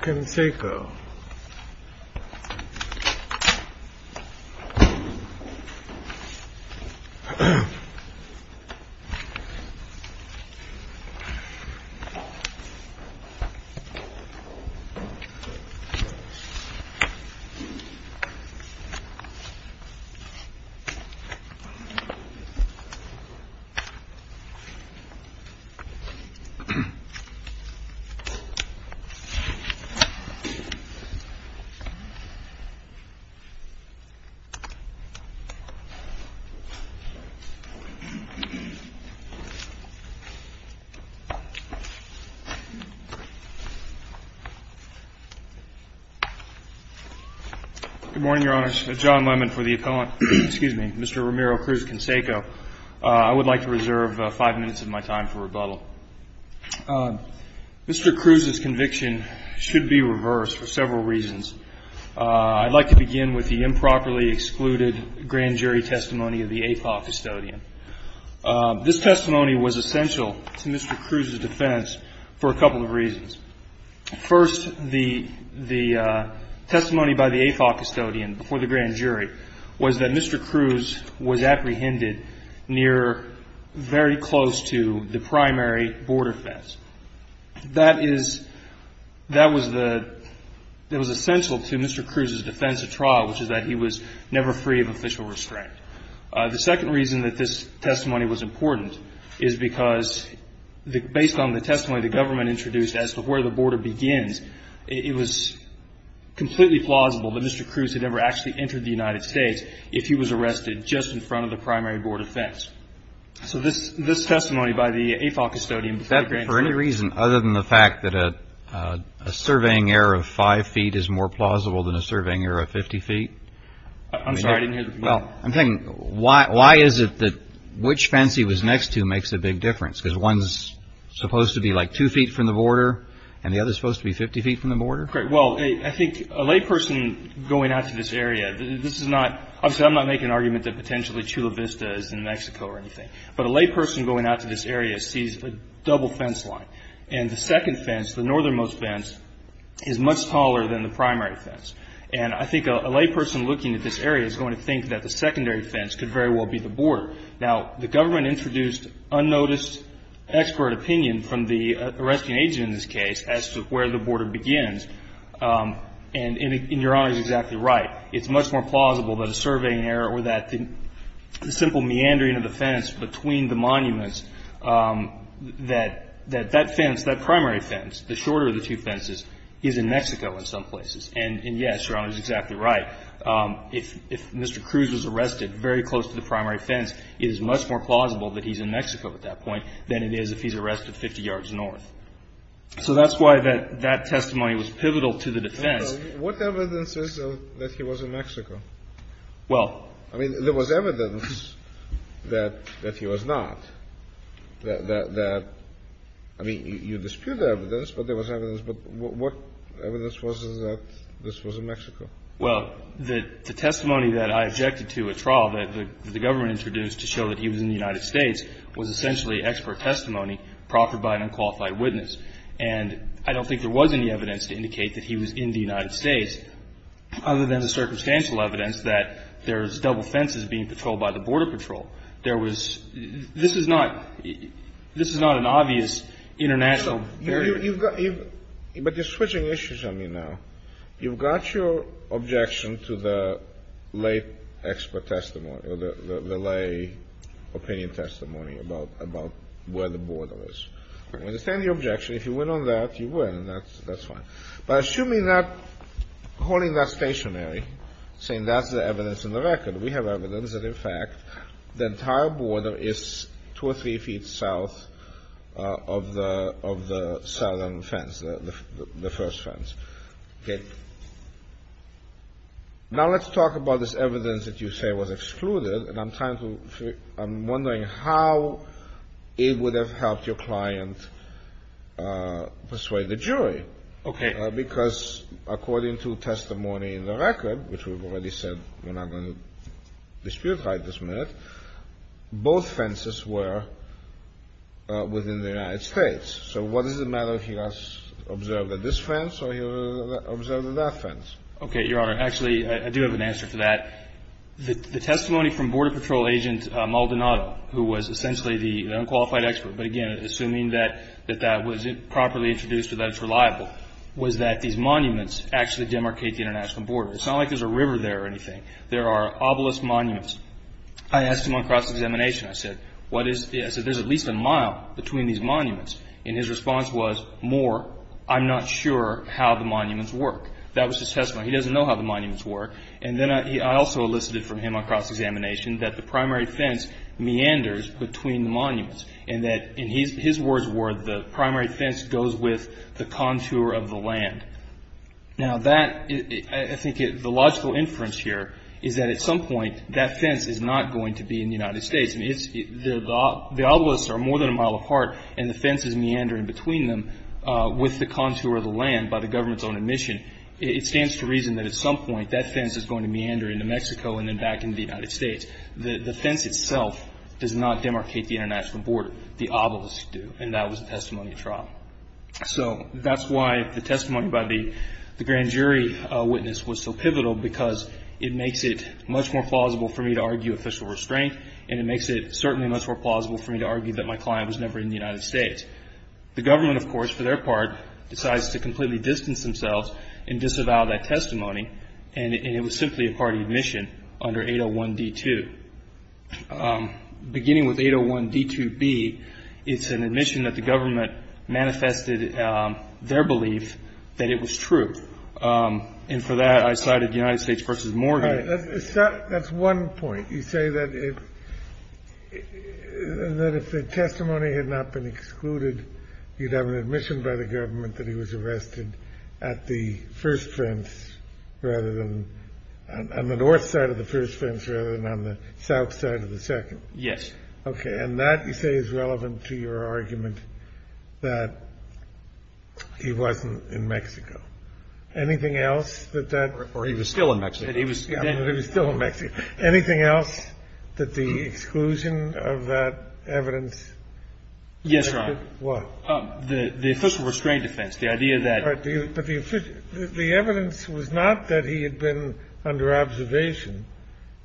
CRUZ-CANSECO Good morning, Your Honors. John Lemon for the appellant. Excuse me, Mr. Ramiro Cruz-Canseco. I would like to reserve five minutes of my time for rebuttal. Mr. Cruz's conviction should be reversed for several reasons. I'd like to begin with the improperly excluded grand jury testimony of the APOC custodian. This testimony was essential to Mr. Cruz's defense for a couple of reasons. First, the testimony by the APOC custodian before the grand jury was that Mr. Cruz was apprehended very close to the primary border fence. That was essential to Mr. Cruz's defense of trial, which is that he was never free of official restraint. The second reason that this testimony was important is because, based on the testimony the government introduced as to where the border begins, it was completely plausible that Mr. Cruz had ever actually entered the United States if he was arrested just in front of the primary border fence. So this testimony by the APOC custodian before the grand jury... For any reason other than the fact that a surveying error of five feet is more plausible than a surveying error of 50 feet? I'm sorry, I didn't hear the comment. Well, I'm thinking, why is it that which fence he was next to makes a big difference? Because one's supposed to be like two feet from the border and the other's supposed to be 50 feet from the border? Well, I think a layperson going out to this area, this is not... Obviously, I'm not making an argument that potentially Chula Vista is in Mexico or anything. But a layperson going out to this area sees a double fence line. And the second fence, the northernmost fence, is much taller than the primary fence. And I think a layperson looking at this area is going to think that the secondary fence could very well be the border. Now, the government introduced unnoticed expert opinion from the arresting agent in this case as to where the border begins. And Your Honor is exactly right. It's much more plausible than a surveying error or that simple meandering of the fence between the monuments that that fence, that primary fence, the shorter of the two fences, is in Mexico in some places. And, yes, Your Honor is exactly right. If Mr. Cruz was arrested very close to the primary fence, it is much more plausible that he's in Mexico at that point than it is if he's arrested 50 yards north. So that's why that testimony was pivotal to the defense. What evidence is that he was in Mexico? Well... I mean, there was evidence that he was not. That, I mean, you dispute the evidence, but there was evidence. But what evidence was it that this was in Mexico? Well, the testimony that I objected to at trial that the government introduced to show that he was in the United States was essentially expert testimony proffered by an unqualified witness. And I don't think there was any evidence to indicate that he was in the United States other than the circumstantial evidence that there's double fences being patrolled by the Border Patrol. There was... This is not an obvious international... So you've got... But you're switching issues on me now. You've got your objection to the lay expert testimony or the lay opinion testimony about where the border is. I understand your objection. If you went on that, you win. That's fine. But assuming that, holding that stationary, saying that's the evidence in the record, we have evidence that, in fact, the entire border is two or three feet south of the southern fence, the first fence. Okay. Now let's talk about this evidence that you say was excluded. And I'm trying to figure... I'm wondering how it would have helped your client persuade the jury. Okay. Because according to testimony in the record, which we've already said we're not going to dispute right this minute, both fences were within the United States. So what does it matter if he was observed at this fence or he was observed at that fence? Okay, Your Honor. Actually, I do have an answer to that. The testimony from Border Patrol agent Maldonado, who was essentially the unqualified expert, but, again, assuming that that was properly introduced or that it's reliable, was that these monuments actually demarcate the international border. It's not like there's a river there or anything. There are obelisk monuments. I asked him on cross-examination, I said, what is the... I said, there's at least a mile between these monuments. And his response was, more, I'm not sure how the monuments work. That was his testimony. He doesn't know how the monuments work. And then I also elicited from him on cross-examination that the primary fence meanders between the monuments and that, in his words, the primary fence goes with the contour of the land. Now, that, I think the logical inference here is that at some point that fence is not going to be in the United States. I mean, the obelisks are more than a mile apart, and the fence is meandering between them with the contour of the land by the government's own admission. It stands to reason that at some point that fence is going to meander into Mexico and then back into the United States. The fence itself does not demarcate the international border. The obelisks do. And that was the testimony of trial. So that's why the testimony by the grand jury witness was so pivotal because it makes it much more plausible for me to argue official restraint, and it makes it certainly much more plausible for me to argue that my client was never in the United States. The government, of course, for their part, decides to completely distance themselves and disavow that testimony, and it was simply a party admission under 801D2. Beginning with 801D2B, it's an admission that the government manifested their belief that it was true. And for that, I cited United States v. Morgan. That's one point. You say that if the testimony had not been excluded, you'd have an admission by the government that he was arrested at the first fence rather than on the north side of the first fence rather than on the south side of the second. Yes. Okay. And that, you say, is relevant to your argument that he wasn't in Mexico. Anything else that that or he was still in Mexico? He was still in Mexico. Yes, Your Honor. What? The official restraint defense. The idea that the idea that the evidence was not that he had been under observation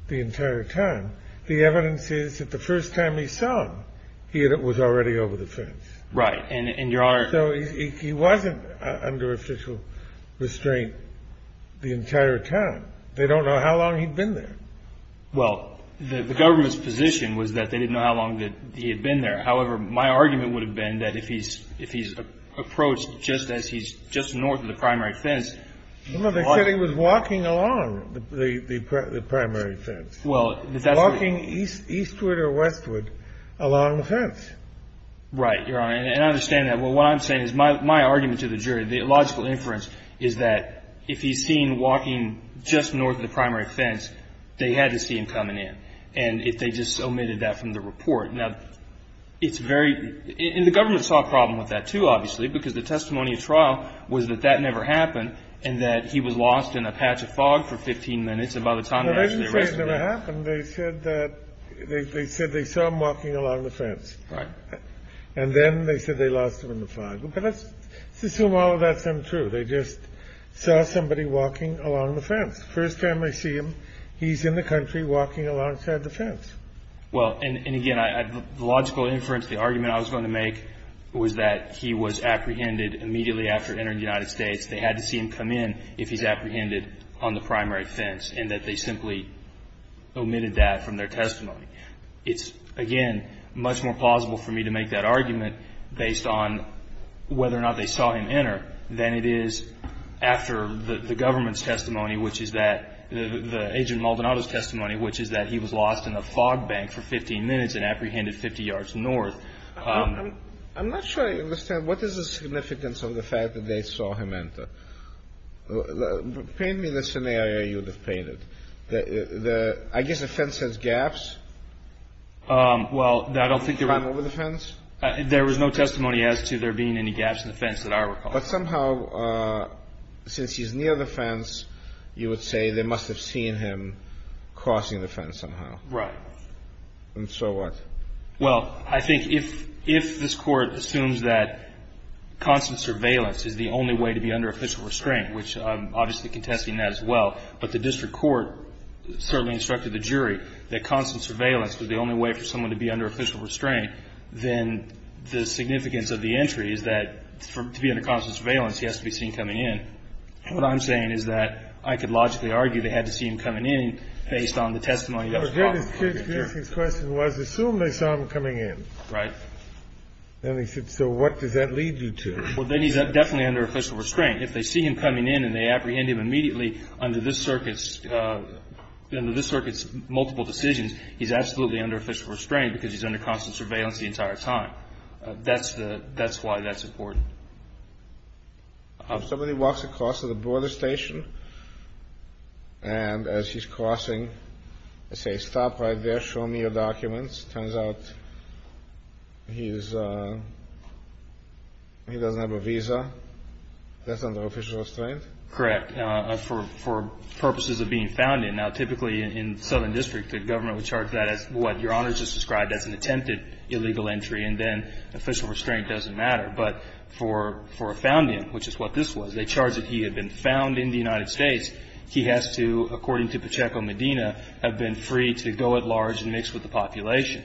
the entire time. The evidence is that the first time he saw him, he was already over the fence. Right. And, Your Honor. So he wasn't under official restraint the entire time. They don't know how long he'd been there. Well, the government's position was that they didn't know how long that he had been there. However, my argument would have been that if he's approached just as he's just north of the primary fence. No, they said he was walking along the primary fence. Walking eastward or westward along the fence. Right, Your Honor. And I understand that. Well, what I'm saying is my argument to the jury, the illogical inference, is that if he's seen walking just north of the primary fence, they had to see him coming in. And if they just omitted that from the report. Now, it's very. And the government saw a problem with that, too, obviously. Because the testimony at trial was that that never happened. And that he was lost in a patch of fog for 15 minutes. And by the time they actually arrested him. No, they didn't say it never happened. They said that. They said they saw him walking along the fence. Right. And then they said they lost him in the fog. But let's assume all of that's untrue. They just saw somebody walking along the fence. First time they see him, he's in the country walking alongside the fence. Well, and again, the logical inference, the argument I was going to make, was that he was apprehended immediately after entering the United States. They had to see him come in if he's apprehended on the primary fence. And that they simply omitted that from their testimony. It's, again, much more plausible for me to make that argument based on whether or not they saw him enter. Than it is after the government's testimony. Which is that, the agent Maldonado's testimony. Which is that he was lost in the fog bank for 15 minutes and apprehended 50 yards north. I'm not sure I understand. What is the significance of the fact that they saw him enter? Paint me the scenario you would have painted. I guess the fence has gaps? Well, I don't think there were. Time over the fence? There was no testimony as to there being any gaps in the fence that I recall. But somehow, since he's near the fence, you would say they must have seen him crossing the fence somehow. Right. And so what? Well, I think if this Court assumes that constant surveillance is the only way to be under official restraint, which I'm obviously contesting that as well. But the district court certainly instructed the jury that constant surveillance was the only way for someone to be under official restraint. Then the significance of the entry is that, to be under constant surveillance, he has to be seen coming in. What I'm saying is that I could logically argue they had to see him coming in based on the testimony that was brought before the jury. The kids' question was, assume they saw him coming in. Right. Then they said, so what does that lead you to? Well, then he's definitely under official restraint. If they see him coming in and they apprehend him immediately under this circuit's multiple decisions, he's absolutely under official restraint because he's under constant surveillance the entire time. That's why that's important. If somebody walks across to the border station, and as he's crossing, they say, stop right there, show me your documents. It turns out he doesn't have a visa. That's under official restraint? Correct. And that's what the Court of Appeals does. It does that for purposes of being found in. Now, typically in southern districts, the government would charge that as what Your Honor just described as an attempted illegal entry, and then official restraint doesn't matter. But for a found in, which is what this was, they charged that he had been found in the United States. He has to, according to Pacheco-Medina, have been free to go at large and mix with the population.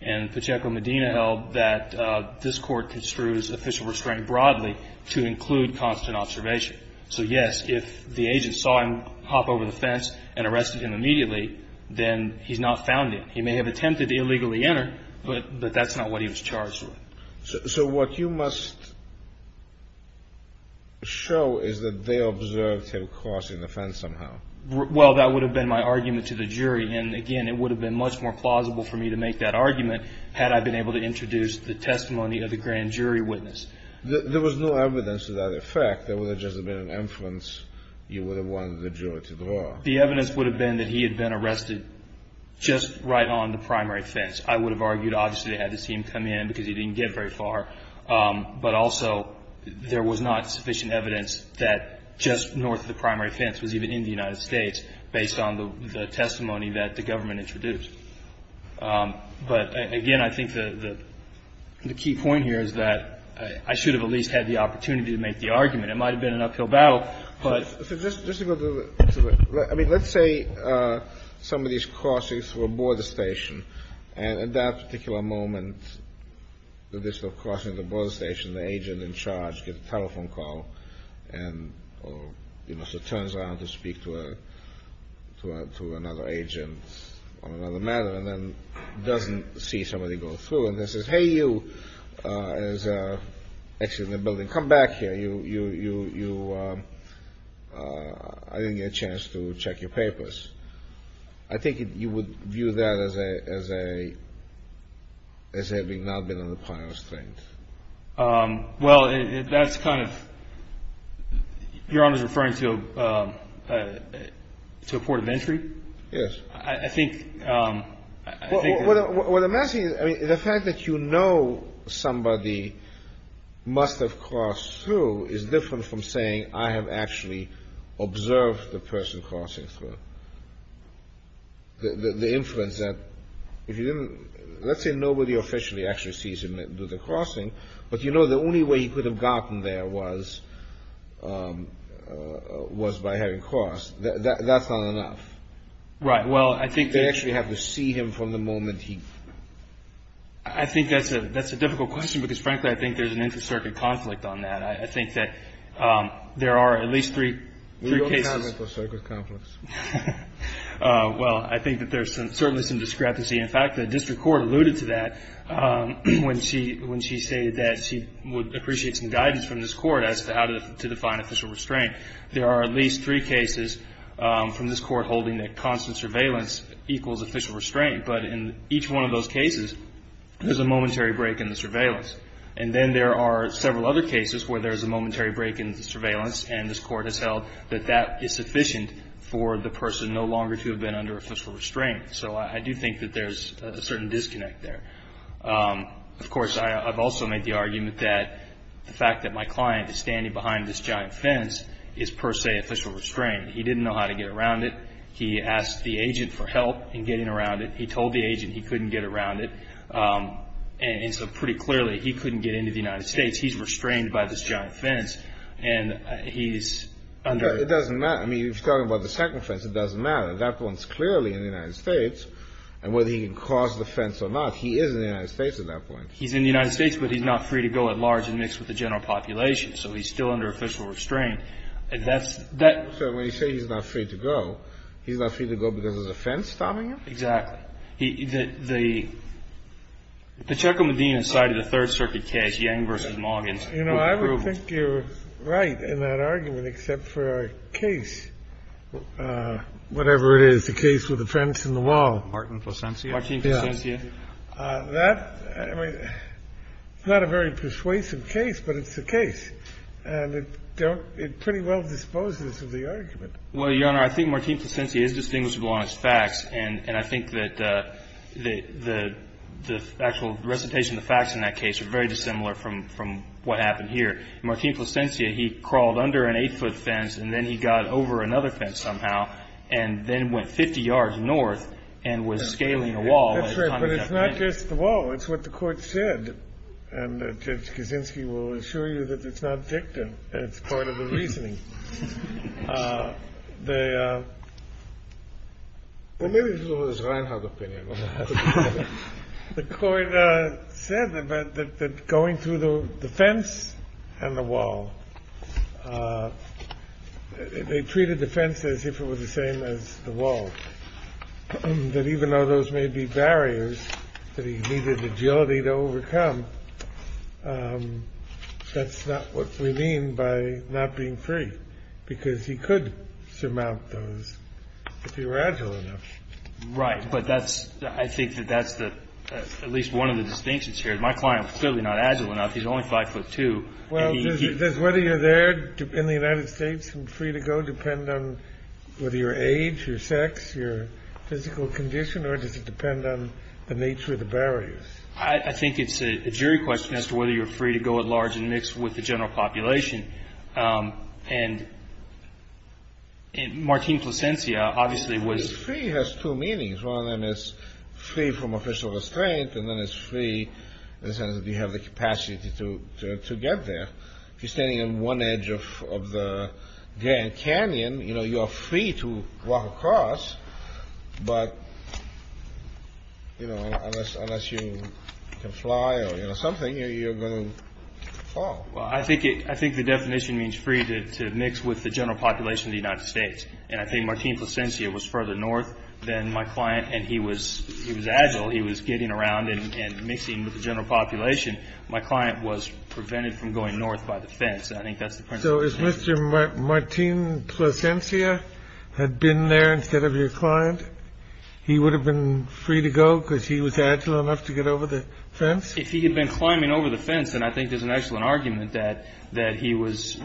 And Pacheco-Medina held that this Court construes official restraint broadly to include constant observation. So, yes, if the agent saw him hop over the fence and arrested him immediately, then he's not found in. He may have attempted to illegally enter, but that's not what he was charged with. So what you must show is that they observed him crossing the fence somehow. Well, that would have been my argument to the jury. And, again, it would have been much more plausible for me to make that argument had I been able to introduce the testimony of the grand jury witness. There was no evidence to that effect. There would have just been an inference you would have wanted the jury to draw. The evidence would have been that he had been arrested just right on the primary fence. I would have argued, obviously, they had to see him come in because he didn't get very far. But also there was not sufficient evidence that just north of the primary fence was even in the United States based on the testimony that the government introduced. But, again, I think the key point here is that I should have at least had the opportunity to make the argument. It might have been an uphill battle, but — I mean, let's say somebody is crossing through a border station. And at that particular moment, the district crossing the border station, the agent in charge gets a telephone call or, you know, so turns around to speak to another agent on another matter and then doesn't see somebody go through and then says, I didn't get a chance to check your papers. I think you would view that as having not been on the primary street. Well, that's kind of — Your Honor is referring to a port of entry? Yes. I think — I mean, the fact that you know somebody must have crossed through is different from saying I have actually observed the person crossing through. The inference that if you didn't — let's say nobody officially actually sees him do the crossing, but you know the only way he could have gotten there was by having crossed. That's not enough. Right. Well, I think — They actually have to see him from the moment he — I think that's a difficult question because, frankly, I think there's an inter-circuit conflict on that. I think that there are at least three cases — We don't have inter-circuit conflicts. Well, I think that there's certainly some discrepancy. In fact, the district court alluded to that when she — when she stated that she would appreciate some guidance from this court as to how to define official restraint. There are at least three cases from this court holding that constant surveillance equals official restraint. But in each one of those cases, there's a momentary break in the surveillance. And then there are several other cases where there's a momentary break in the surveillance, and this court has held that that is sufficient for the person no longer to have been under official restraint. So I do think that there's a certain disconnect there. Of course, I've also made the argument that the fact that my client is standing behind this giant fence is per se official restraint. He didn't know how to get around it. He asked the agent for help in getting around it. He told the agent he couldn't get around it. And so pretty clearly, he couldn't get into the United States. He's restrained by this giant fence, and he's under — It doesn't matter. I mean, if you're talking about the second fence, it doesn't matter. That one's clearly in the United States. And whether he can cross the fence or not, he is in the United States at that point. He's in the United States, but he's not free to go at large and mixed with the general population. So he's still under official restraint. And that's — So when you say he's not free to go, he's not free to go because there's a fence stopping him? Exactly. The — the Chucklemadina side of the Third Circuit case, Yang v. Moggins — You know, I would think you're right in that argument, except for our case. Whatever it is, the case with the fence and the wall. Martin Placencia. Yeah. That — I mean, it's not a very persuasive case, but it's the case. And it don't — it pretty well disposes of the argument. Well, Your Honor, I think Martin Placencia is distinguishable on his facts. And I think that the actual recitation of the facts in that case are very dissimilar from what happened here. Martin Placencia, he crawled under an eight-foot fence and then he got over another fence somehow and then went 50 yards north and was scaling a wall. That's right, but it's not just the wall. It's what the court said. And Judge Kaczynski will assure you that it's not dictum. It's part of the reasoning. The — Well, maybe it was Reinhardt opinion. The court said that going through the fence and the wall, they treated the fence as if it was the same as the wall, that even though those may be barriers that he needed agility to overcome, that's not what we mean by not being free, because he could surmount those if he were agile enough. Right. But that's — I think that that's at least one of the distinctions here. My client is clearly not agile enough. He's only 5'2". Well, does whether you're there in the United States and free to go depend on whether your age, your sex, your physical condition, or does it depend on the nature of the barriers? I think it's a jury question as to whether you're free to go at large and mix with the general population. And Martin Placencia obviously was — Free has two meanings. One of them is free from official restraint. And then it's free in the sense that you have the capacity to get there. If you're standing on one edge of the Grand Canyon, you know, you're free to walk across. But, you know, unless you can fly or, you know, something, you're going to fall. Well, I think it — I think the definition means free to mix with the general population of the United States. And I think Martin Placencia was further north than my client. And he was agile. He was getting around and mixing with the general population. My client was prevented from going north by the fence. And I think that's the principle. So if Mr. Martin Placencia had been there instead of your client, he would have been free to go because he was agile enough to get over the fence? If he had been climbing over the fence, then I think there's an excellent argument that he was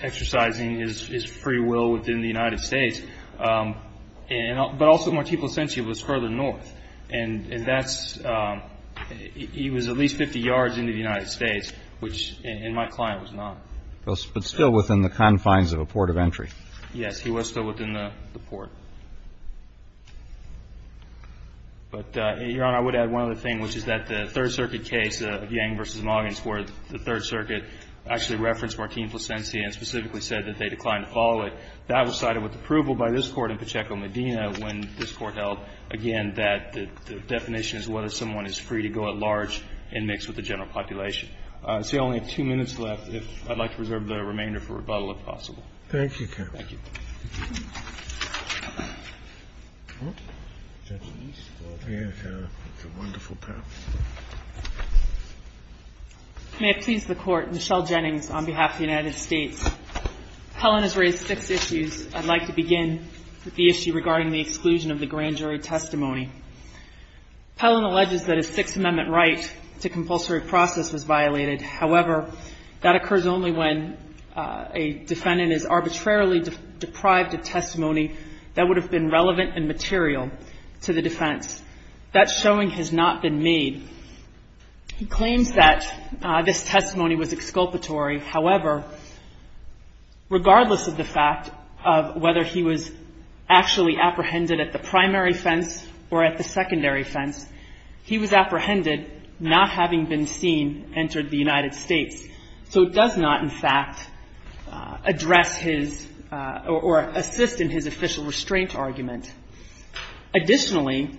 exercising his free will within the United States. But also Martin Placencia was further north. And that's — he was at least 50 yards into the United States, which my client was not. But still within the confines of a port of entry. Yes, he was still within the port. But, Your Honor, I would add one other thing, which is that the Third Circuit case, Yang v. Moggins, where the Third Circuit actually referenced Martin Placencia and specifically said that they declined to follow it, that was cited with approval by this Court in Pacheco-Medina when this Court held, again, that the definition is whether someone is free to go at large and mix with the general population. I see I only have two minutes left. If I'd like to reserve the remainder for rebuttal, if possible. Thank you, counsel. Thank you. Judge Eastwood. Thank you, Your Honor. It's a wonderful panel. May I please the Court? Michelle Jennings on behalf of the United States. Pellin has raised six issues. I'd like to begin with the issue regarding the exclusion of the grand jury testimony. Pellin alleges that a Sixth Amendment right to compulsory process was violated. However, that occurs only when a defendant is arbitrarily deprived of testimony that would have been relevant and material to the defense. That showing has not been made. He claims that this testimony was exculpatory. However, regardless of the fact of whether he was actually apprehended at the primary fence or at the secondary fence, he was apprehended not having been seen entering the United States. So it does not, in fact, address his or assist in his official restraint argument. Additionally,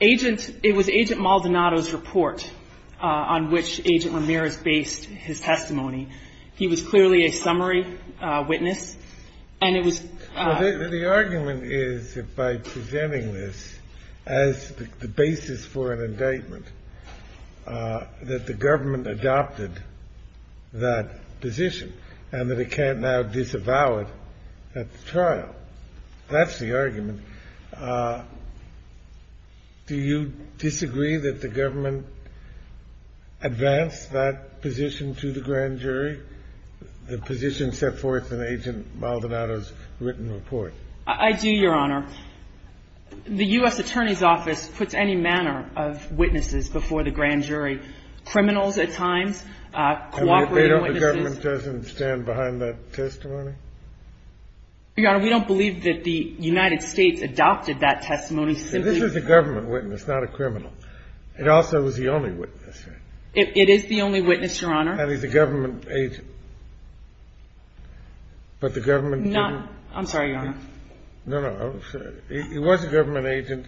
it was Agent Maldonado's report on which Agent Ramirez based his testimony. He was clearly a summary witness, and it was – The argument is that by presenting this as the basis for an indictment, that the government adopted that position and that it can't now disavow it at the trial. That's the argument. Do you disagree that the government advanced that position to the grand jury, the position set forth in Agent Maldonado's written report? I do, Your Honor. The U.S. Attorney's Office puts any manner of witnesses before the grand jury, criminals at times, cooperating witnesses. And the government doesn't stand behind that testimony? Your Honor, we don't believe that the United States adopted that testimony simply – This is a government witness, not a criminal. It also is the only witness. It is the only witness, Your Honor. And he's a government agent. But the government – I'm sorry, Your Honor. No, no. He was a government agent.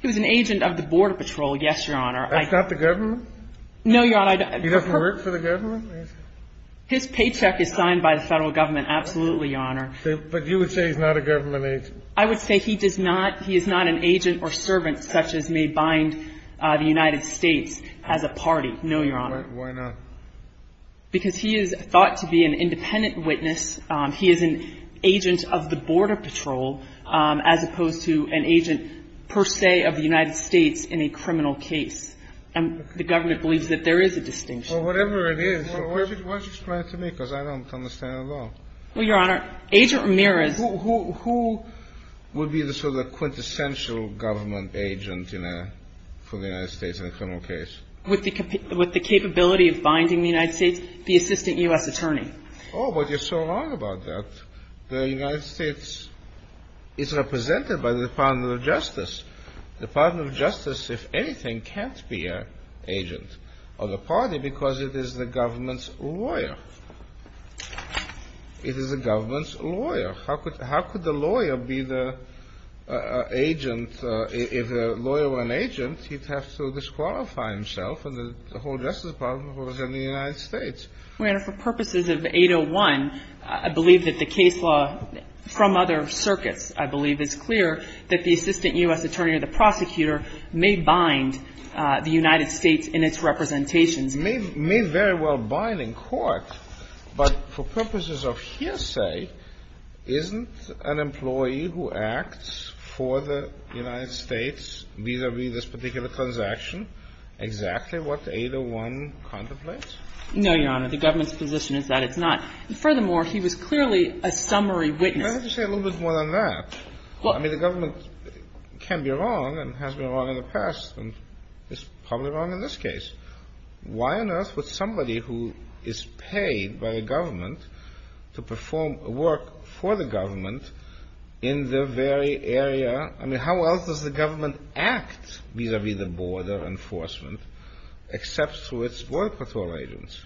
He was an agent of the Border Patrol, yes, Your Honor. That's not the government? No, Your Honor. He doesn't work for the government? His paycheck is signed by the federal government, absolutely, Your Honor. But you would say he's not a government agent? I would say he does not – he is not an agent or servant such as may bind the United States as a party, no, Your Honor. Why not? Because he is thought to be an independent witness. He is an agent of the Border Patrol as opposed to an agent per se of the United States in a criminal case. And the government believes that there is a distinction. Well, whatever it is – Why don't you explain it to me because I don't understand at all. Well, Your Honor, Agent Ramirez – Who would be the sort of quintessential government agent in a – for the United States in a criminal case? With the capability of binding the United States, the assistant U.S. attorney. Oh, but you're so wrong about that. The United States is represented by the Department of Justice. The Department of Justice, if anything, can't be an agent of the party because it is the government's lawyer. It is the government's lawyer. How could the lawyer be the agent – if the lawyer were an agent, he'd have to disqualify himself and the whole Justice Department representing the United States. Well, Your Honor, for purposes of 801, I believe that the case law from other circuits, I believe, is clear that the assistant U.S. attorney or the prosecutor may bind the United States in its representations. May very well bind in court, but for purposes of hearsay, isn't an employee who acts for the United States vis-à-vis this particular transaction exactly what 801 contemplates? No, Your Honor. The government's position is that it's not. Furthermore, he was clearly a summary witness. Well, I have to say a little bit more than that. I mean, the government can be wrong and has been wrong in the past and is probably wrong in this case. Why on earth would somebody who is paid by the government to perform work for the government in the very area – I mean, how else does the government act vis-à-vis the border enforcement except through its work with all agents?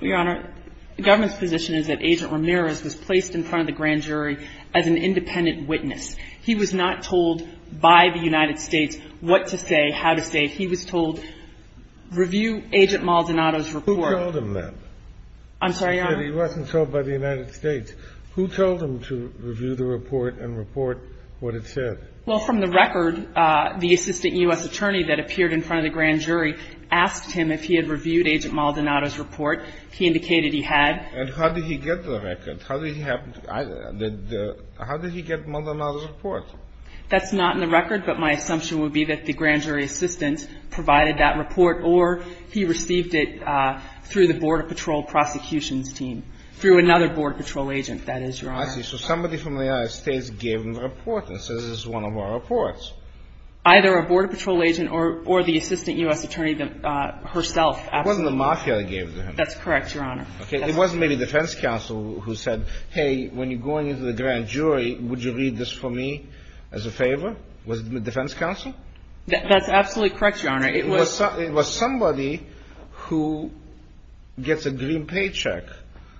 Well, Your Honor, the government's position is that Agent Ramirez was placed in front of the grand jury as an independent witness. He was not told by the United States what to say, how to say. He was told, review Agent Maldonado's report. Who told him that? I'm sorry, Your Honor? You said he wasn't told by the United States. Who told him to review the report and report what it said? Well, from the record, the assistant U.S. attorney that appeared in front of the grand jury asked him if he had reviewed Agent Maldonado's report. He indicated he had. And how did he get the record? How did he get Maldonado's report? That's not in the record, but my assumption would be that the grand jury assistant provided that report or he received it through the Border Patrol prosecutions team, through another Border Patrol agent, that is, Your Honor. I see. So somebody from the United States gave him the report and said, this is one of our reports. Either a Border Patrol agent or the assistant U.S. attorney herself. It wasn't the mafia that gave it to him. That's correct, Your Honor. It wasn't maybe defense counsel who said, hey, when you're going into the grand jury, would you read this for me as a favor? Was it defense counsel? That's absolutely correct, Your Honor. It was somebody who gets a green paycheck.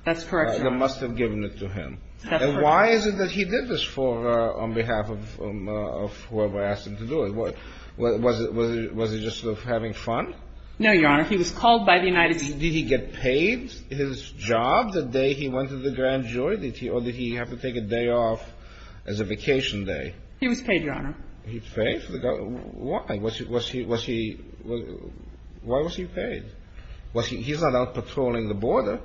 That's correct, Your Honor. And why is it that he did this on behalf of whoever asked him to do it? Was he just sort of having fun? No, Your Honor. He was called by the United States. Did he get paid his job the day he went to the grand jury? Or did he have to take a day off as a vacation day? He was paid, Your Honor. He was paid? Why? Was he – why was he paid? He's not out patrolling the border.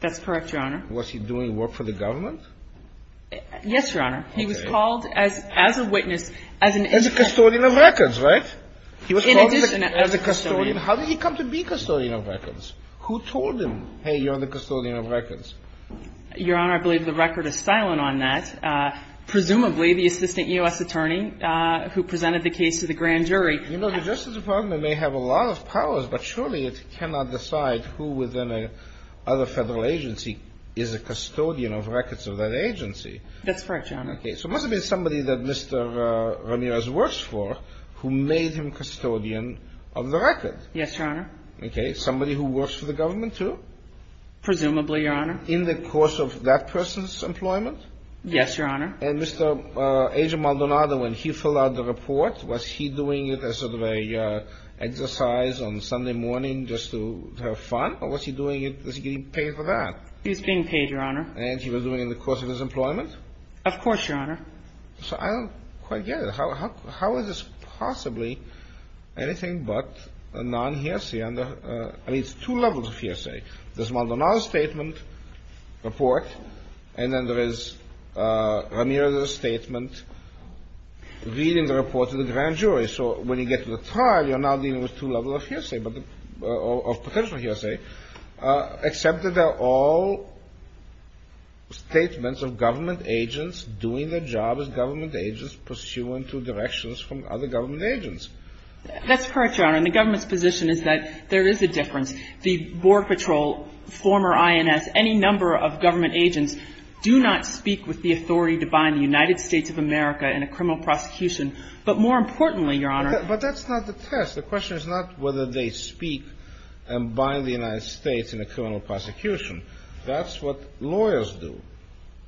That's correct, Your Honor. Was he doing work for the government? Yes, Your Honor. Okay. He was called as a witness, as an – As a custodian of records, right? In addition – He was called as a custodian. How did he come to be custodian of records? Who told him, hey, you're the custodian of records? Your Honor, I believe the record is silent on that. Presumably, the assistant U.S. attorney who presented the case to the grand jury – You know, the Justice Department may have a lot of powers, but surely it cannot decide who within another federal agency is a custodian of records of that agency. That's correct, Your Honor. Okay. So it must have been somebody that Mr. Ramirez works for who made him custodian of the record. Yes, Your Honor. Okay. Somebody who works for the government, too? Presumably, Your Honor. In the course of that person's employment? Yes, Your Honor. And Mr. Agent Maldonado, when he filled out the report, was he doing it as sort of a exercise on Sunday morning just to have fun? Or was he doing it – was he getting paid for that? He was being paid, Your Honor. And he was doing it in the course of his employment? Of course, Your Honor. So I don't quite get it. How is this possibly anything but a non-hearsay under – I mean, it's two levels of hearsay. There's Maldonado's statement, report, and then there is Ramirez's statement, reading the report to the grand jury. So when you get to the trial, you're now dealing with two levels of hearsay, but – of potential hearsay, except that they're all statements of government agents doing their job as government agents pursuing two directions from other government agents. That's correct, Your Honor. And the government's position is that there is a difference. The Border Patrol, former INS, any number of government agents do not speak with the authority to bind the United States of America in a criminal prosecution. But more importantly, Your Honor – But that's not the test. The question is not whether they speak and bind the United States in a criminal prosecution. That's what lawyers do.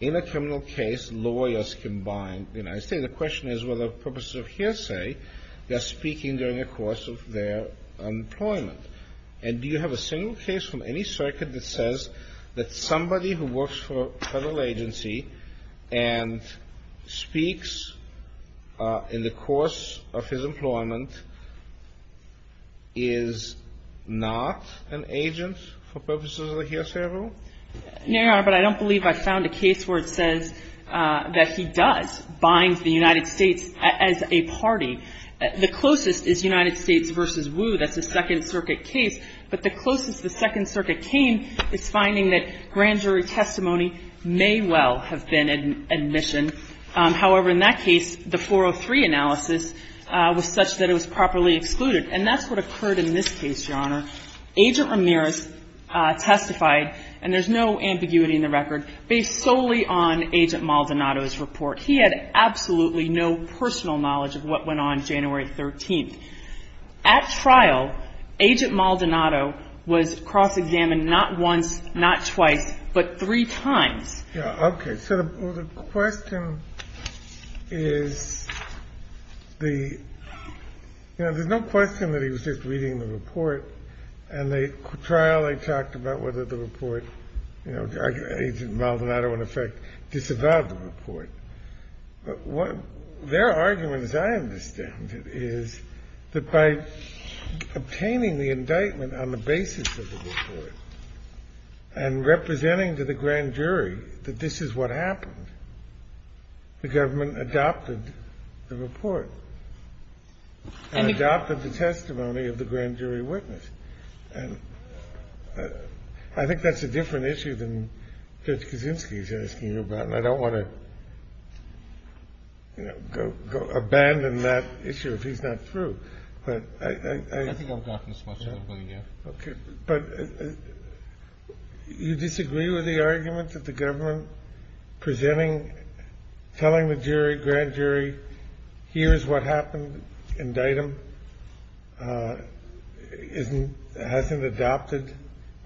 In a criminal case, lawyers can bind the United States. The question is whether, for purposes of hearsay, they're speaking during the course of their employment. And do you have a single case from any circuit that says that somebody who works for a federal agency and speaks in the course of his employment is not an agent for purposes of a hearsay rule? No, Your Honor, but I don't believe I found a case where it says that he does bind the United States as a party. The closest is United States v. Wu. That's a Second Circuit case. But the closest the Second Circuit came is finding that grand jury testimony may well have been admission. However, in that case, the 403 analysis was such that it was properly excluded. And that's what occurred in this case, Your Honor. Agent Ramirez testified, and there's no ambiguity in the record, based solely on Agent Maldonado's report. He had absolutely no personal knowledge of what went on January 13th. At trial, Agent Maldonado was cross-examined not once, not twice, but three times. Okay. So the question is the – you know, there's no question that he was just reading the report. And at trial, they talked about whether the report – you know, Agent Maldonado, in effect, disavowed the report. But their argument, as I understand it, is that by obtaining the indictment on the basis of the report and representing to the grand jury that this is what happened, the government adopted the report and adopted the testimony of the grand jury witness. And I think that's a different issue than Judge Kaczynski is asking you about. And I don't want to, you know, abandon that issue if he's not true. But I – I think I've gotten as much as I'm going to get. Okay. But you disagree with the argument that the government presenting – telling the jury, grand jury, here is what happened, and the indictment isn't – hasn't adopted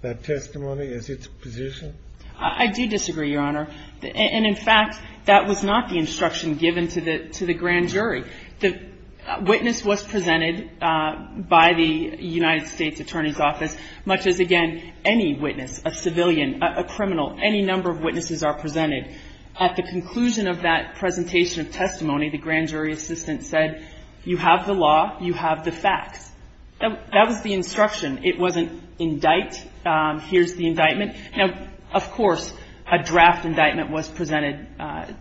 that testimony as its position? I do disagree, Your Honor. And in fact, that was not the instruction given to the grand jury. The witness was presented by the United States Attorney's Office, much as, again, any witness, a civilian, a criminal, any number of witnesses are presented. At the conclusion of that presentation of testimony, the grand jury assistant said, you have the law, you have the facts. That was the instruction. It wasn't indict, here's the indictment. Now, of course, a draft indictment was presented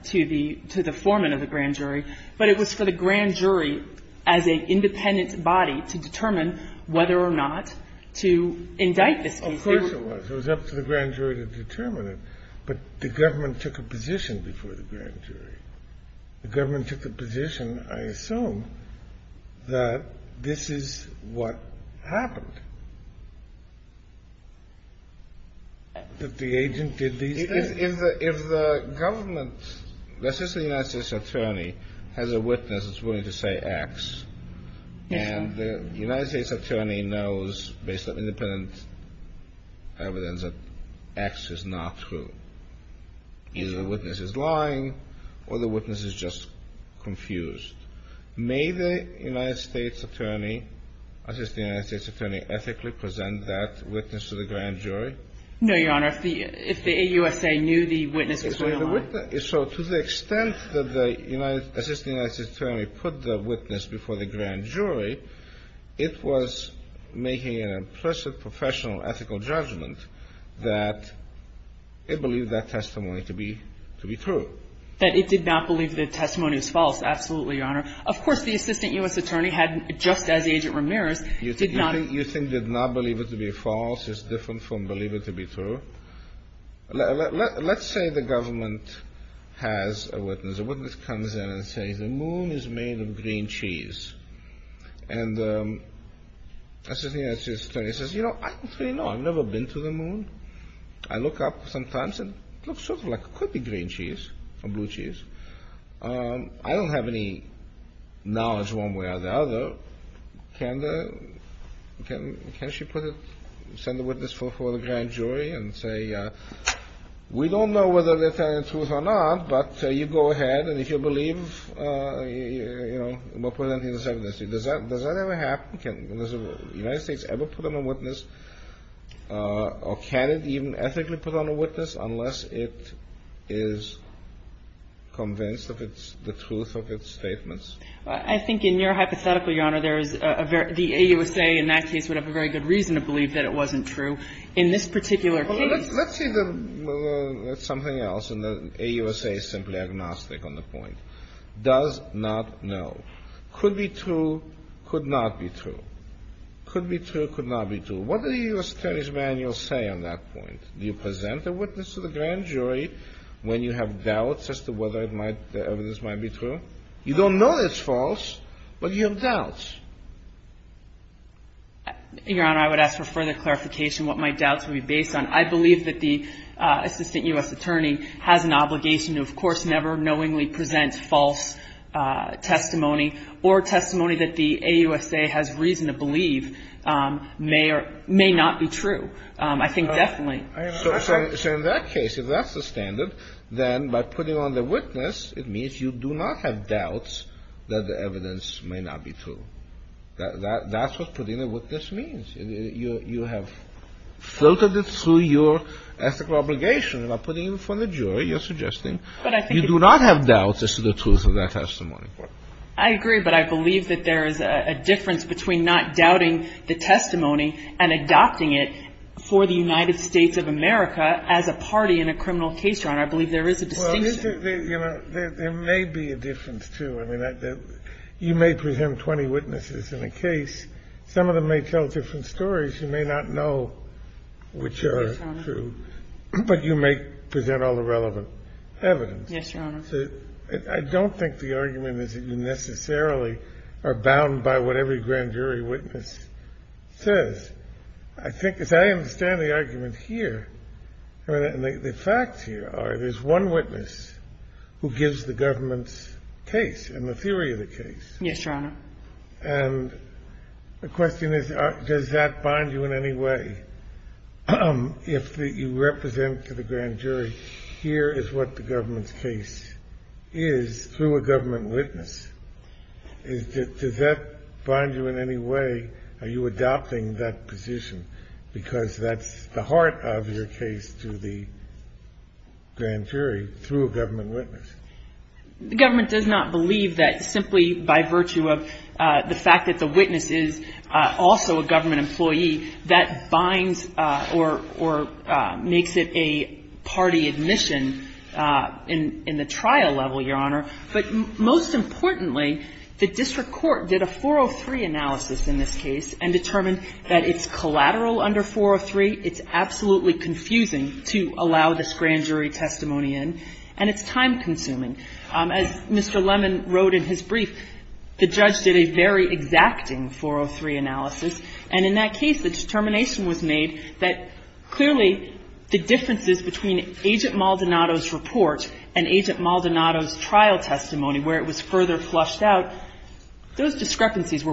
to the foreman of the grand jury, but it was for the grand jury as an independent body to determine whether or not to indict this person. Of course it was. It was up to the grand jury to determine it, but the government took a position before the grand jury. The government took the position, I assume, that this is what happened, that the agent did these things. If the government – let's say the United States Attorney has a witness that's willing to say X, and the United States Attorney knows, based on independent evidence, that X is not true, either the witness is lying or the witness is just confused, may the United States Attorney, Assistant United States Attorney, ethically present that witness to the grand jury? No, Your Honor. If the AUSA knew the witness was going to lie. So to the extent that the Assistant United States Attorney put the witness before the grand jury, it was making an implicit professional ethical judgment that it believed that testimony to be true. That it did not believe the testimony was false. Absolutely, Your Honor. Of course, the Assistant U.S. Attorney had, just as Agent Ramirez, did not. You think they did not believe it to be false? It's different from believe it to be true? Let's say the government has a witness. A witness comes in and says, the moon is made of green cheese. And the Assistant United States Attorney says, you know, I don't really know. I've never been to the moon. I look up sometimes and it looks sort of like it could be green cheese or blue cheese. I don't have any knowledge one way or the other. Well, can the ‑‑ can she put it, send the witness before the grand jury and say, we don't know whether they're telling the truth or not, but you go ahead and if you believe, you know, we'll put it under the circumstances. Does that ever happen? Can the United States ever put them on witness? Or can it even ethically put on a witness unless it is convinced of the truth of its statements? I think in your hypothetical, Your Honor, there is a very ‑‑ the AUSA in that case would have a very good reason to believe that it wasn't true. In this particular case ‑‑ Well, let's see the ‑‑ that's something else, and the AUSA is simply agnostic on the point. Does not know. Could be true, could not be true. Could be true, could not be true. What do the U.S. Attorney's manuals say on that point? Do you present a witness to the grand jury when you have doubts as to whether it might ‑‑ the evidence might be true? You don't know it's false, but you have doubts. Your Honor, I would ask for further clarification what my doubts would be based on. I believe that the assistant U.S. attorney has an obligation to, of course, never knowingly present false testimony or testimony that the AUSA has reason to believe may or may not be true. I think definitely. So in that case, if that's the standard, then by putting on the witness, it means you do not have doubts that the evidence may not be true. That's what putting on the witness means. You have filtered it through your ethical obligation. You're not putting it in front of the jury. You're suggesting you do not have doubts as to the truth of that testimony. I agree, but I believe that there is a difference between not doubting the testimony and adopting it for the United States of America as a party in a criminal case, Your Honor. I believe there is a distinction. There may be a difference, too. I mean, you may present 20 witnesses in a case. Some of them may tell different stories. You may not know which are true. Yes, Your Honor. But you may present all the relevant evidence. Yes, Your Honor. I don't think the argument is that you necessarily are bound by what every grand jury witness says. I think, as I understand the argument here, and the facts here are, there's one witness who gives the government's case and the theory of the case. Yes, Your Honor. And the question is, does that bind you in any way? If you represent to the grand jury, here is what the government's case is through a government witness. Does that bind you in any way? Are you adopting that position? Because that's the heart of your case to the grand jury through a government witness. The government does not believe that simply by virtue of the fact that the witness is also a government employee, that binds or makes it a party admission in the trial level, Your Honor. But most importantly, the district court did a 403 analysis in this case and determined that it's collateral under 403, it's absolutely confusing to allow this grand jury testimony in, and it's time consuming. As Mr. Lemon wrote in his brief, the judge did a very exacting 403 analysis. And in that case, the determination was made that clearly the differences between Agent Maldonado's report and Agent Maldonado's trial testimony, where it was clear that there was a discrepancy between the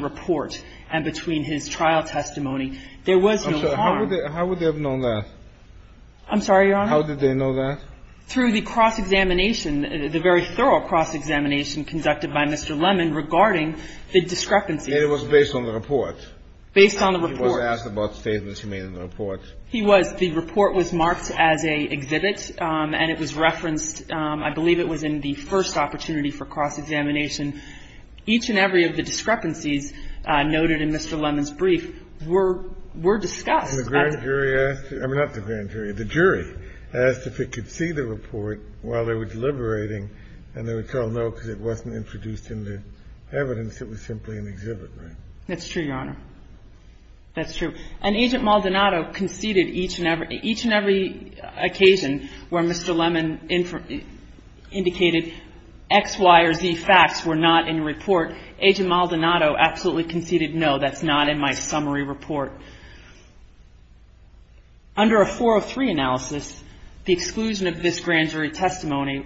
report and his trial testimony. There was no harm. I'm sorry. How would they have known that? I'm sorry, Your Honor? How did they know that? Through the cross-examination, the very thorough cross-examination conducted by Mr. Lemon regarding the discrepancy. And it was based on the report? Based on the report. He was asked about statements he made in the report. He was. The report was marked as an exhibit, and it was referenced, I believe, it was in the first opportunity for cross-examination. Each and every of the discrepancies noted in Mr. Lemon's brief were discussed. And the grand jury asked, I mean, not the grand jury. The jury asked if it could see the report while they were deliberating, and they would tell no because it wasn't introduced in the evidence. It was simply an exhibit, right? That's true, Your Honor. That's true. And Agent Maldonado conceded each and every occasion where Mr. Lemon indicated X, Y, or Z facts were not in the report, Agent Maldonado absolutely conceded, no, that's not in my summary report. Under a 403 analysis, the exclusion of this grand jury testimony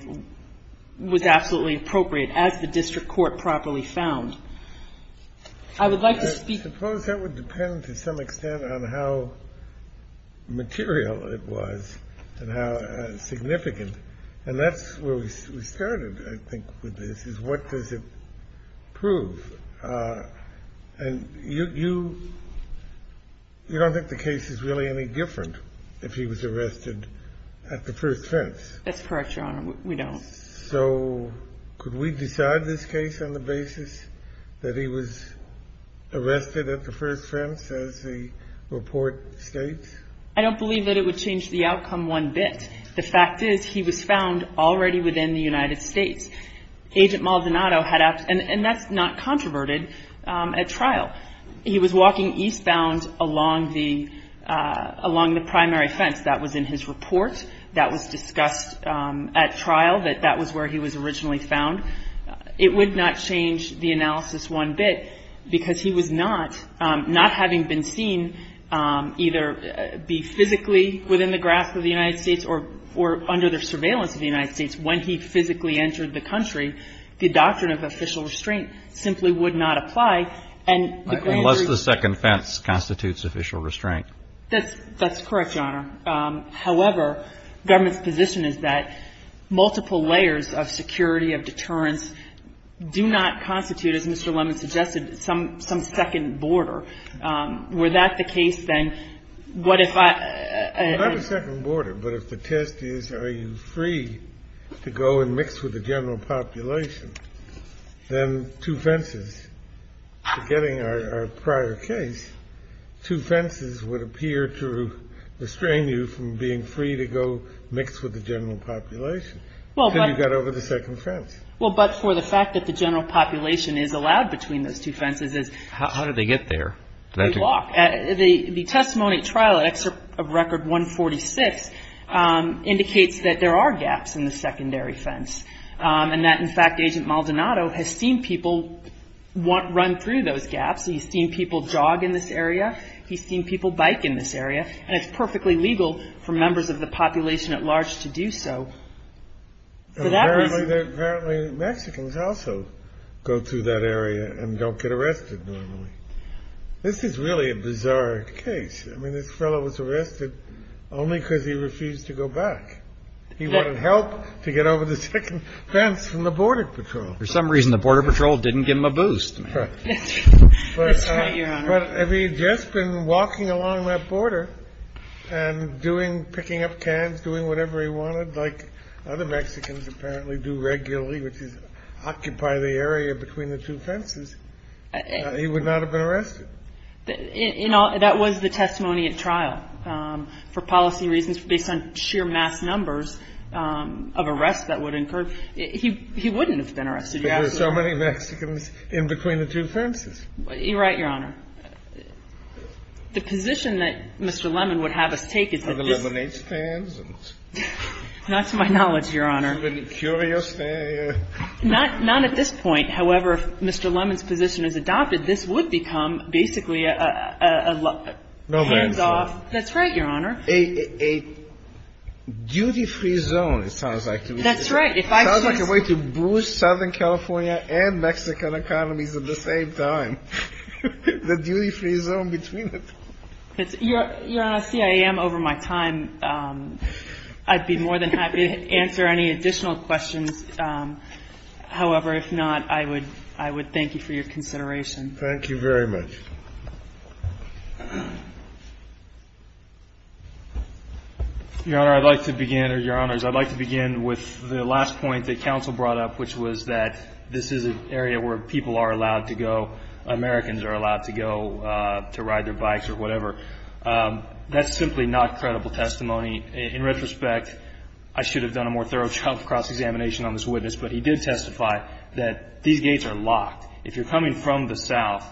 was absolutely appropriate as the district court properly found. I would like to speak. I suppose that would depend to some extent on how material it was and how significant. And that's where we started, I think, with this, is what does it prove? And you don't think the case is really any different if he was arrested at the first fence. That's correct, Your Honor. We don't. So could we decide this case on the basis that he was arrested at the first fence, as the report states? I don't believe that it would change the outcome one bit. The fact is he was found already within the United States. Agent Maldonado had asked, and that's not controverted, at trial. He was walking eastbound along the primary fence. That was in his report. That was discussed at trial, that that was where he was originally found. It would not change the analysis one bit, because he was not, not having been seen either be physically within the grasp of the United States or under the surveillance of the United States when he physically entered the country, the doctrine of official restraint simply would not apply. Unless the second fence constitutes official restraint. That's correct, Your Honor. However, government's position is that multiple layers of security, of deterrence, do not constitute, as Mr. Lemon suggested, some second border. Were that the case, then, what if I ---- Not a second border, but if the test is are you free to go and mix with the general population, then two fences, forgetting our prior case, two fences would appear to restrain you from being free to go mix with the general population. Well, but ---- Then you got over the second fence. Well, but for the fact that the general population is allowed between those two fences is ---- How did they get there? Did they walk? The testimony at trial, at record 146, indicates that there are gaps in the secondary fence, and that, in fact, Agent Maldonado has seen people run through those gaps. He's seen people jog in this area. He's seen people bike in this area. And it's perfectly legal for members of the population at large to do so. For that reason ---- Apparently, Mexicans also go through that area and don't get arrested normally. This is really a bizarre case. I mean, this fellow was arrested only because he refused to go back. He wanted help to get over the second fence from the Border Patrol. For some reason, the Border Patrol didn't give him a boost. That's right, Your Honor. But if he had just been walking along that border and doing ---- picking up cans, doing whatever he wanted, like other Mexicans apparently do regularly, which is occupy the area between the two fences, he would not have been arrested. You know, that was the testimony at trial. For policy reasons, based on sheer mass numbers of arrests that would incur, he wouldn't have been arrested. You're absolutely right. Because there are so many Mexicans in between the two fences. You're right, Your Honor. The position that Mr. Lemon would have us take is that this ---- Are there lemonade stands? Not to my knowledge, Your Honor. Curious? Not at this point. However, if Mr. Lemon's position is adopted, this would become basically a hands-off ---- No man's land. That's right, Your Honor. A duty-free zone, it sounds like to me. That's right. Sounds like a way to boost Southern California and Mexican economies at the same time. The duty-free zone between them. Your Honor, see, I am over my time. I'd be more than happy to answer any additional questions. However, if not, I would thank you for your consideration. Thank you very much. Your Honor, I'd like to begin, or Your Honors, I'd like to begin with the last point that Americans are allowed to go to ride their bikes or whatever. That's simply not credible testimony. In retrospect, I should have done a more thorough cross-examination on this witness, but he did testify that these gates are locked. If you're coming from the south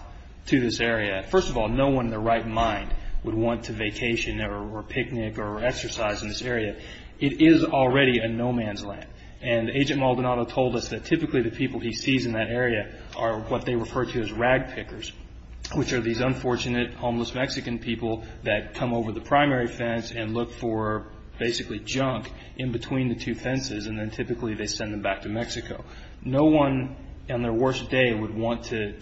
to this area, first of all, no one in their right mind would want to vacation or picnic or exercise in this area. It is already a no man's land. And Agent Maldonado told us that typically the people he sees in that area are what they refer to as ragpickers, which are these unfortunate homeless Mexican people that come over the primary fence and look for basically junk in between the two fences, and then typically they send them back to Mexico. No one on their worst day would want to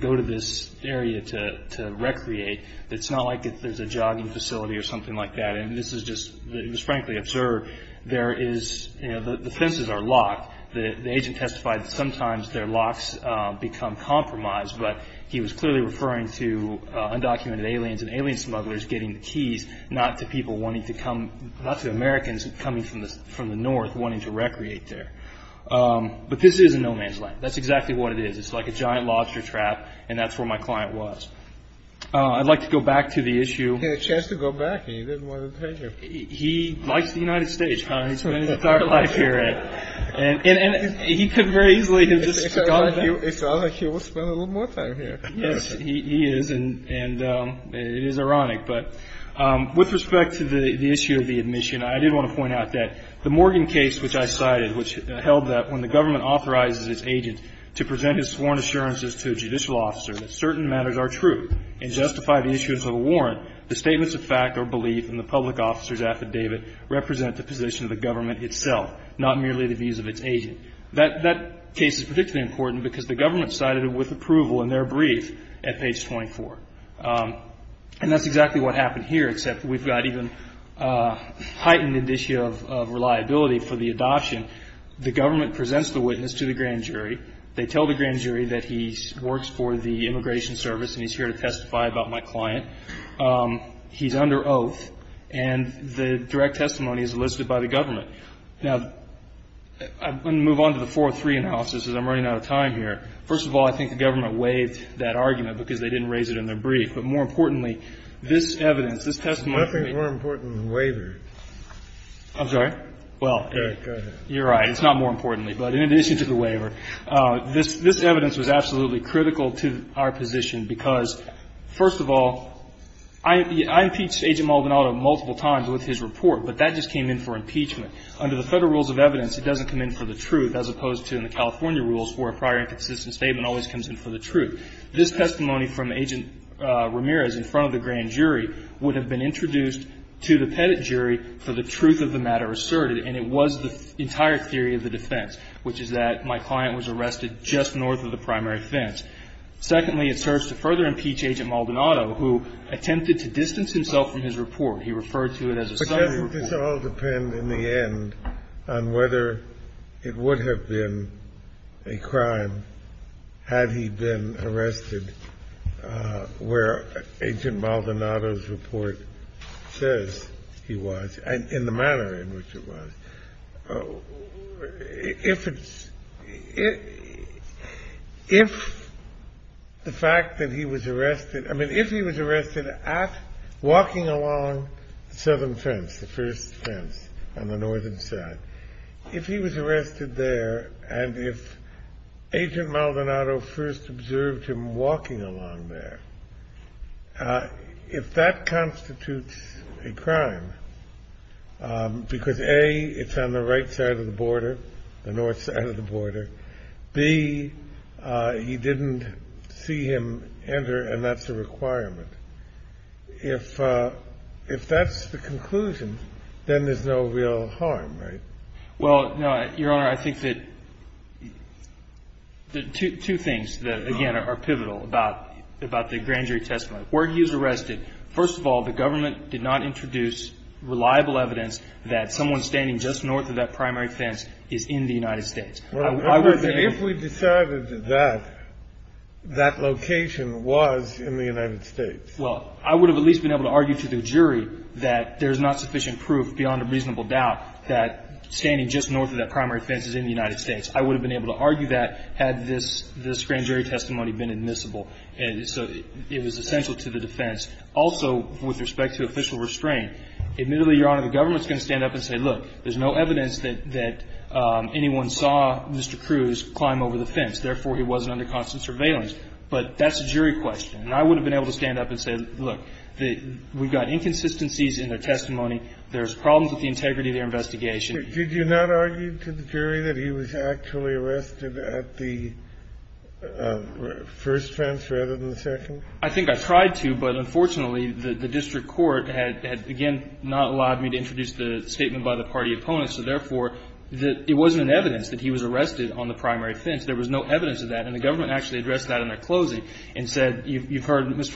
go to this area to recreate. It's not like there's a jogging facility or something like that. It was frankly absurd. The fences are locked. The agent testified that sometimes their locks become compromised, but he was clearly referring to undocumented aliens and alien smugglers getting the keys, not to Americans coming from the north wanting to recreate there. But this is a no man's land. That's exactly what it is. It's like a giant lobster trap, and that's where my client was. I'd like to go back to the issue. He had a chance to go back, and he didn't want to tell you. He likes the United States. He spent his entire life here, and he could very easily have just gone back. It's not like he would spend a little more time here. Yes, he is, and it is ironic. But with respect to the issue of the admission, I did want to point out that the Morgan case which I cited, which held that when the government authorizes its agent to present his sworn assurances to a judicial officer that certain matters are true and justify the issuance of a warrant, the statements of fact or belief in the public officer's affidavit represent the position of the government itself, not merely the views of its agent. That case is particularly important because the government cited it with approval in their brief at page 24. And that's exactly what happened here, except we've got even a heightened issue of reliability for the adoption. The government presents the witness to the grand jury. They tell the grand jury that he works for the Immigration Service and he's here to testify about my client. He's under oath. And the direct testimony is enlisted by the government. Now, I'm going to move on to the 403 analysis because I'm running out of time here. First of all, I think the government waived that argument because they didn't raise it in their brief. But more importantly, this evidence, this testimony to me ---- I think it's more important than the waiver. I'm sorry? Well, you're right. It's not more importantly. But in addition to the waiver, this evidence was absolutely critical to our position because, first of all, I impeached Agent Maldonado multiple times with his report, but that just came in for impeachment. Under the Federal rules of evidence, it doesn't come in for the truth, as opposed to in the California rules where a prior and consistent statement always comes in for the truth. This testimony from Agent Ramirez in front of the grand jury would have been introduced to the Petit jury for the truth of the matter asserted, and it was the entire theory of the defense. Which is that my client was arrested just north of the primary fence. Secondly, it serves to further impeach Agent Maldonado, who attempted to distance himself from his report. He referred to it as a summary report. But doesn't this all depend, in the end, on whether it would have been a crime had he been arrested where Agent Maldonado's report says he was and in the manner in which it was? If the fact that he was arrested... I mean, if he was arrested walking along the southern fence, the first fence on the northern side, if he was arrested there and if Agent Maldonado first observed him walking along there, if that constitutes a crime, because, A, it's on the right side of the border, the north side of the border, B, he didn't see him enter, and that's a requirement, if that's the conclusion, then there's no real harm, right? Well, no, Your Honor, I think that two things, again, are pivotal about the grand jury testimony. Where he was arrested, first of all, the government did not introduce reliable evidence that someone standing just north of that primary fence is in the United States. If we decided that, that location was in the United States. Well, I would have at least been able to argue to the jury that there's not sufficient proof, beyond a reasonable doubt, that standing just north of that primary fence is in the United States. I would have been able to argue that had this grand jury testimony been admissible. So it was essential to the defense. Also, with respect to official restraint, admittedly, Your Honor, the government's going to stand up and say, look, there's no evidence that anyone saw Mr. Cruz climb over the fence. Therefore, he wasn't under constant surveillance. But that's a jury question. And I would have been able to stand up and say, look, we've got inconsistencies in their testimony. There's problems with the integrity of their investigation. Kennedy. Did you not argue to the jury that he was actually arrested at the first fence rather than the second? I think I tried to. But unfortunately, the district court had, again, not allowed me to introduce the statement by the party opponents. So therefore, it wasn't evidence that he was arrested on the primary fence. There was no evidence of that. And the government actually addressed that in their closing and said, you've heard Mr.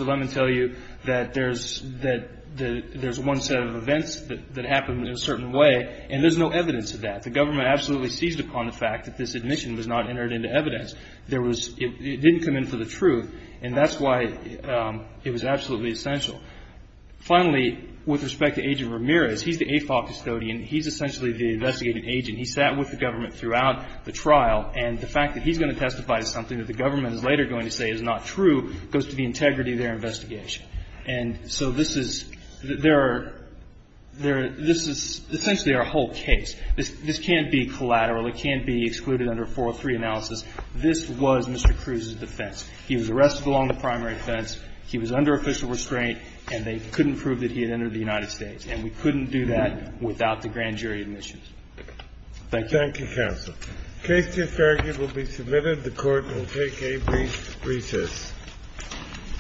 And there's no evidence of that. The government absolutely seized upon the fact that this admission was not entered into evidence. There was — it didn't come in for the truth. And that's why it was absolutely essential. Finally, with respect to Agent Ramirez, he's the AFOP custodian. He's essentially the investigating agent. He sat with the government throughout the trial. And the fact that he's going to testify to something that the government is later going to say is not true goes to the integrity of their investigation. And so this is — there are — there are — this is essentially our whole case. This can't be collateral. It can't be excluded under a 403 analysis. This was Mr. Cruz's defense. He was arrested along the primary fence. He was under official restraint. And they couldn't prove that he had entered the United States. And we couldn't do that without the grand jury admissions. Thank you. Thank you, counsel. The case to Farragut will be submitted. The Court will take a brief recess.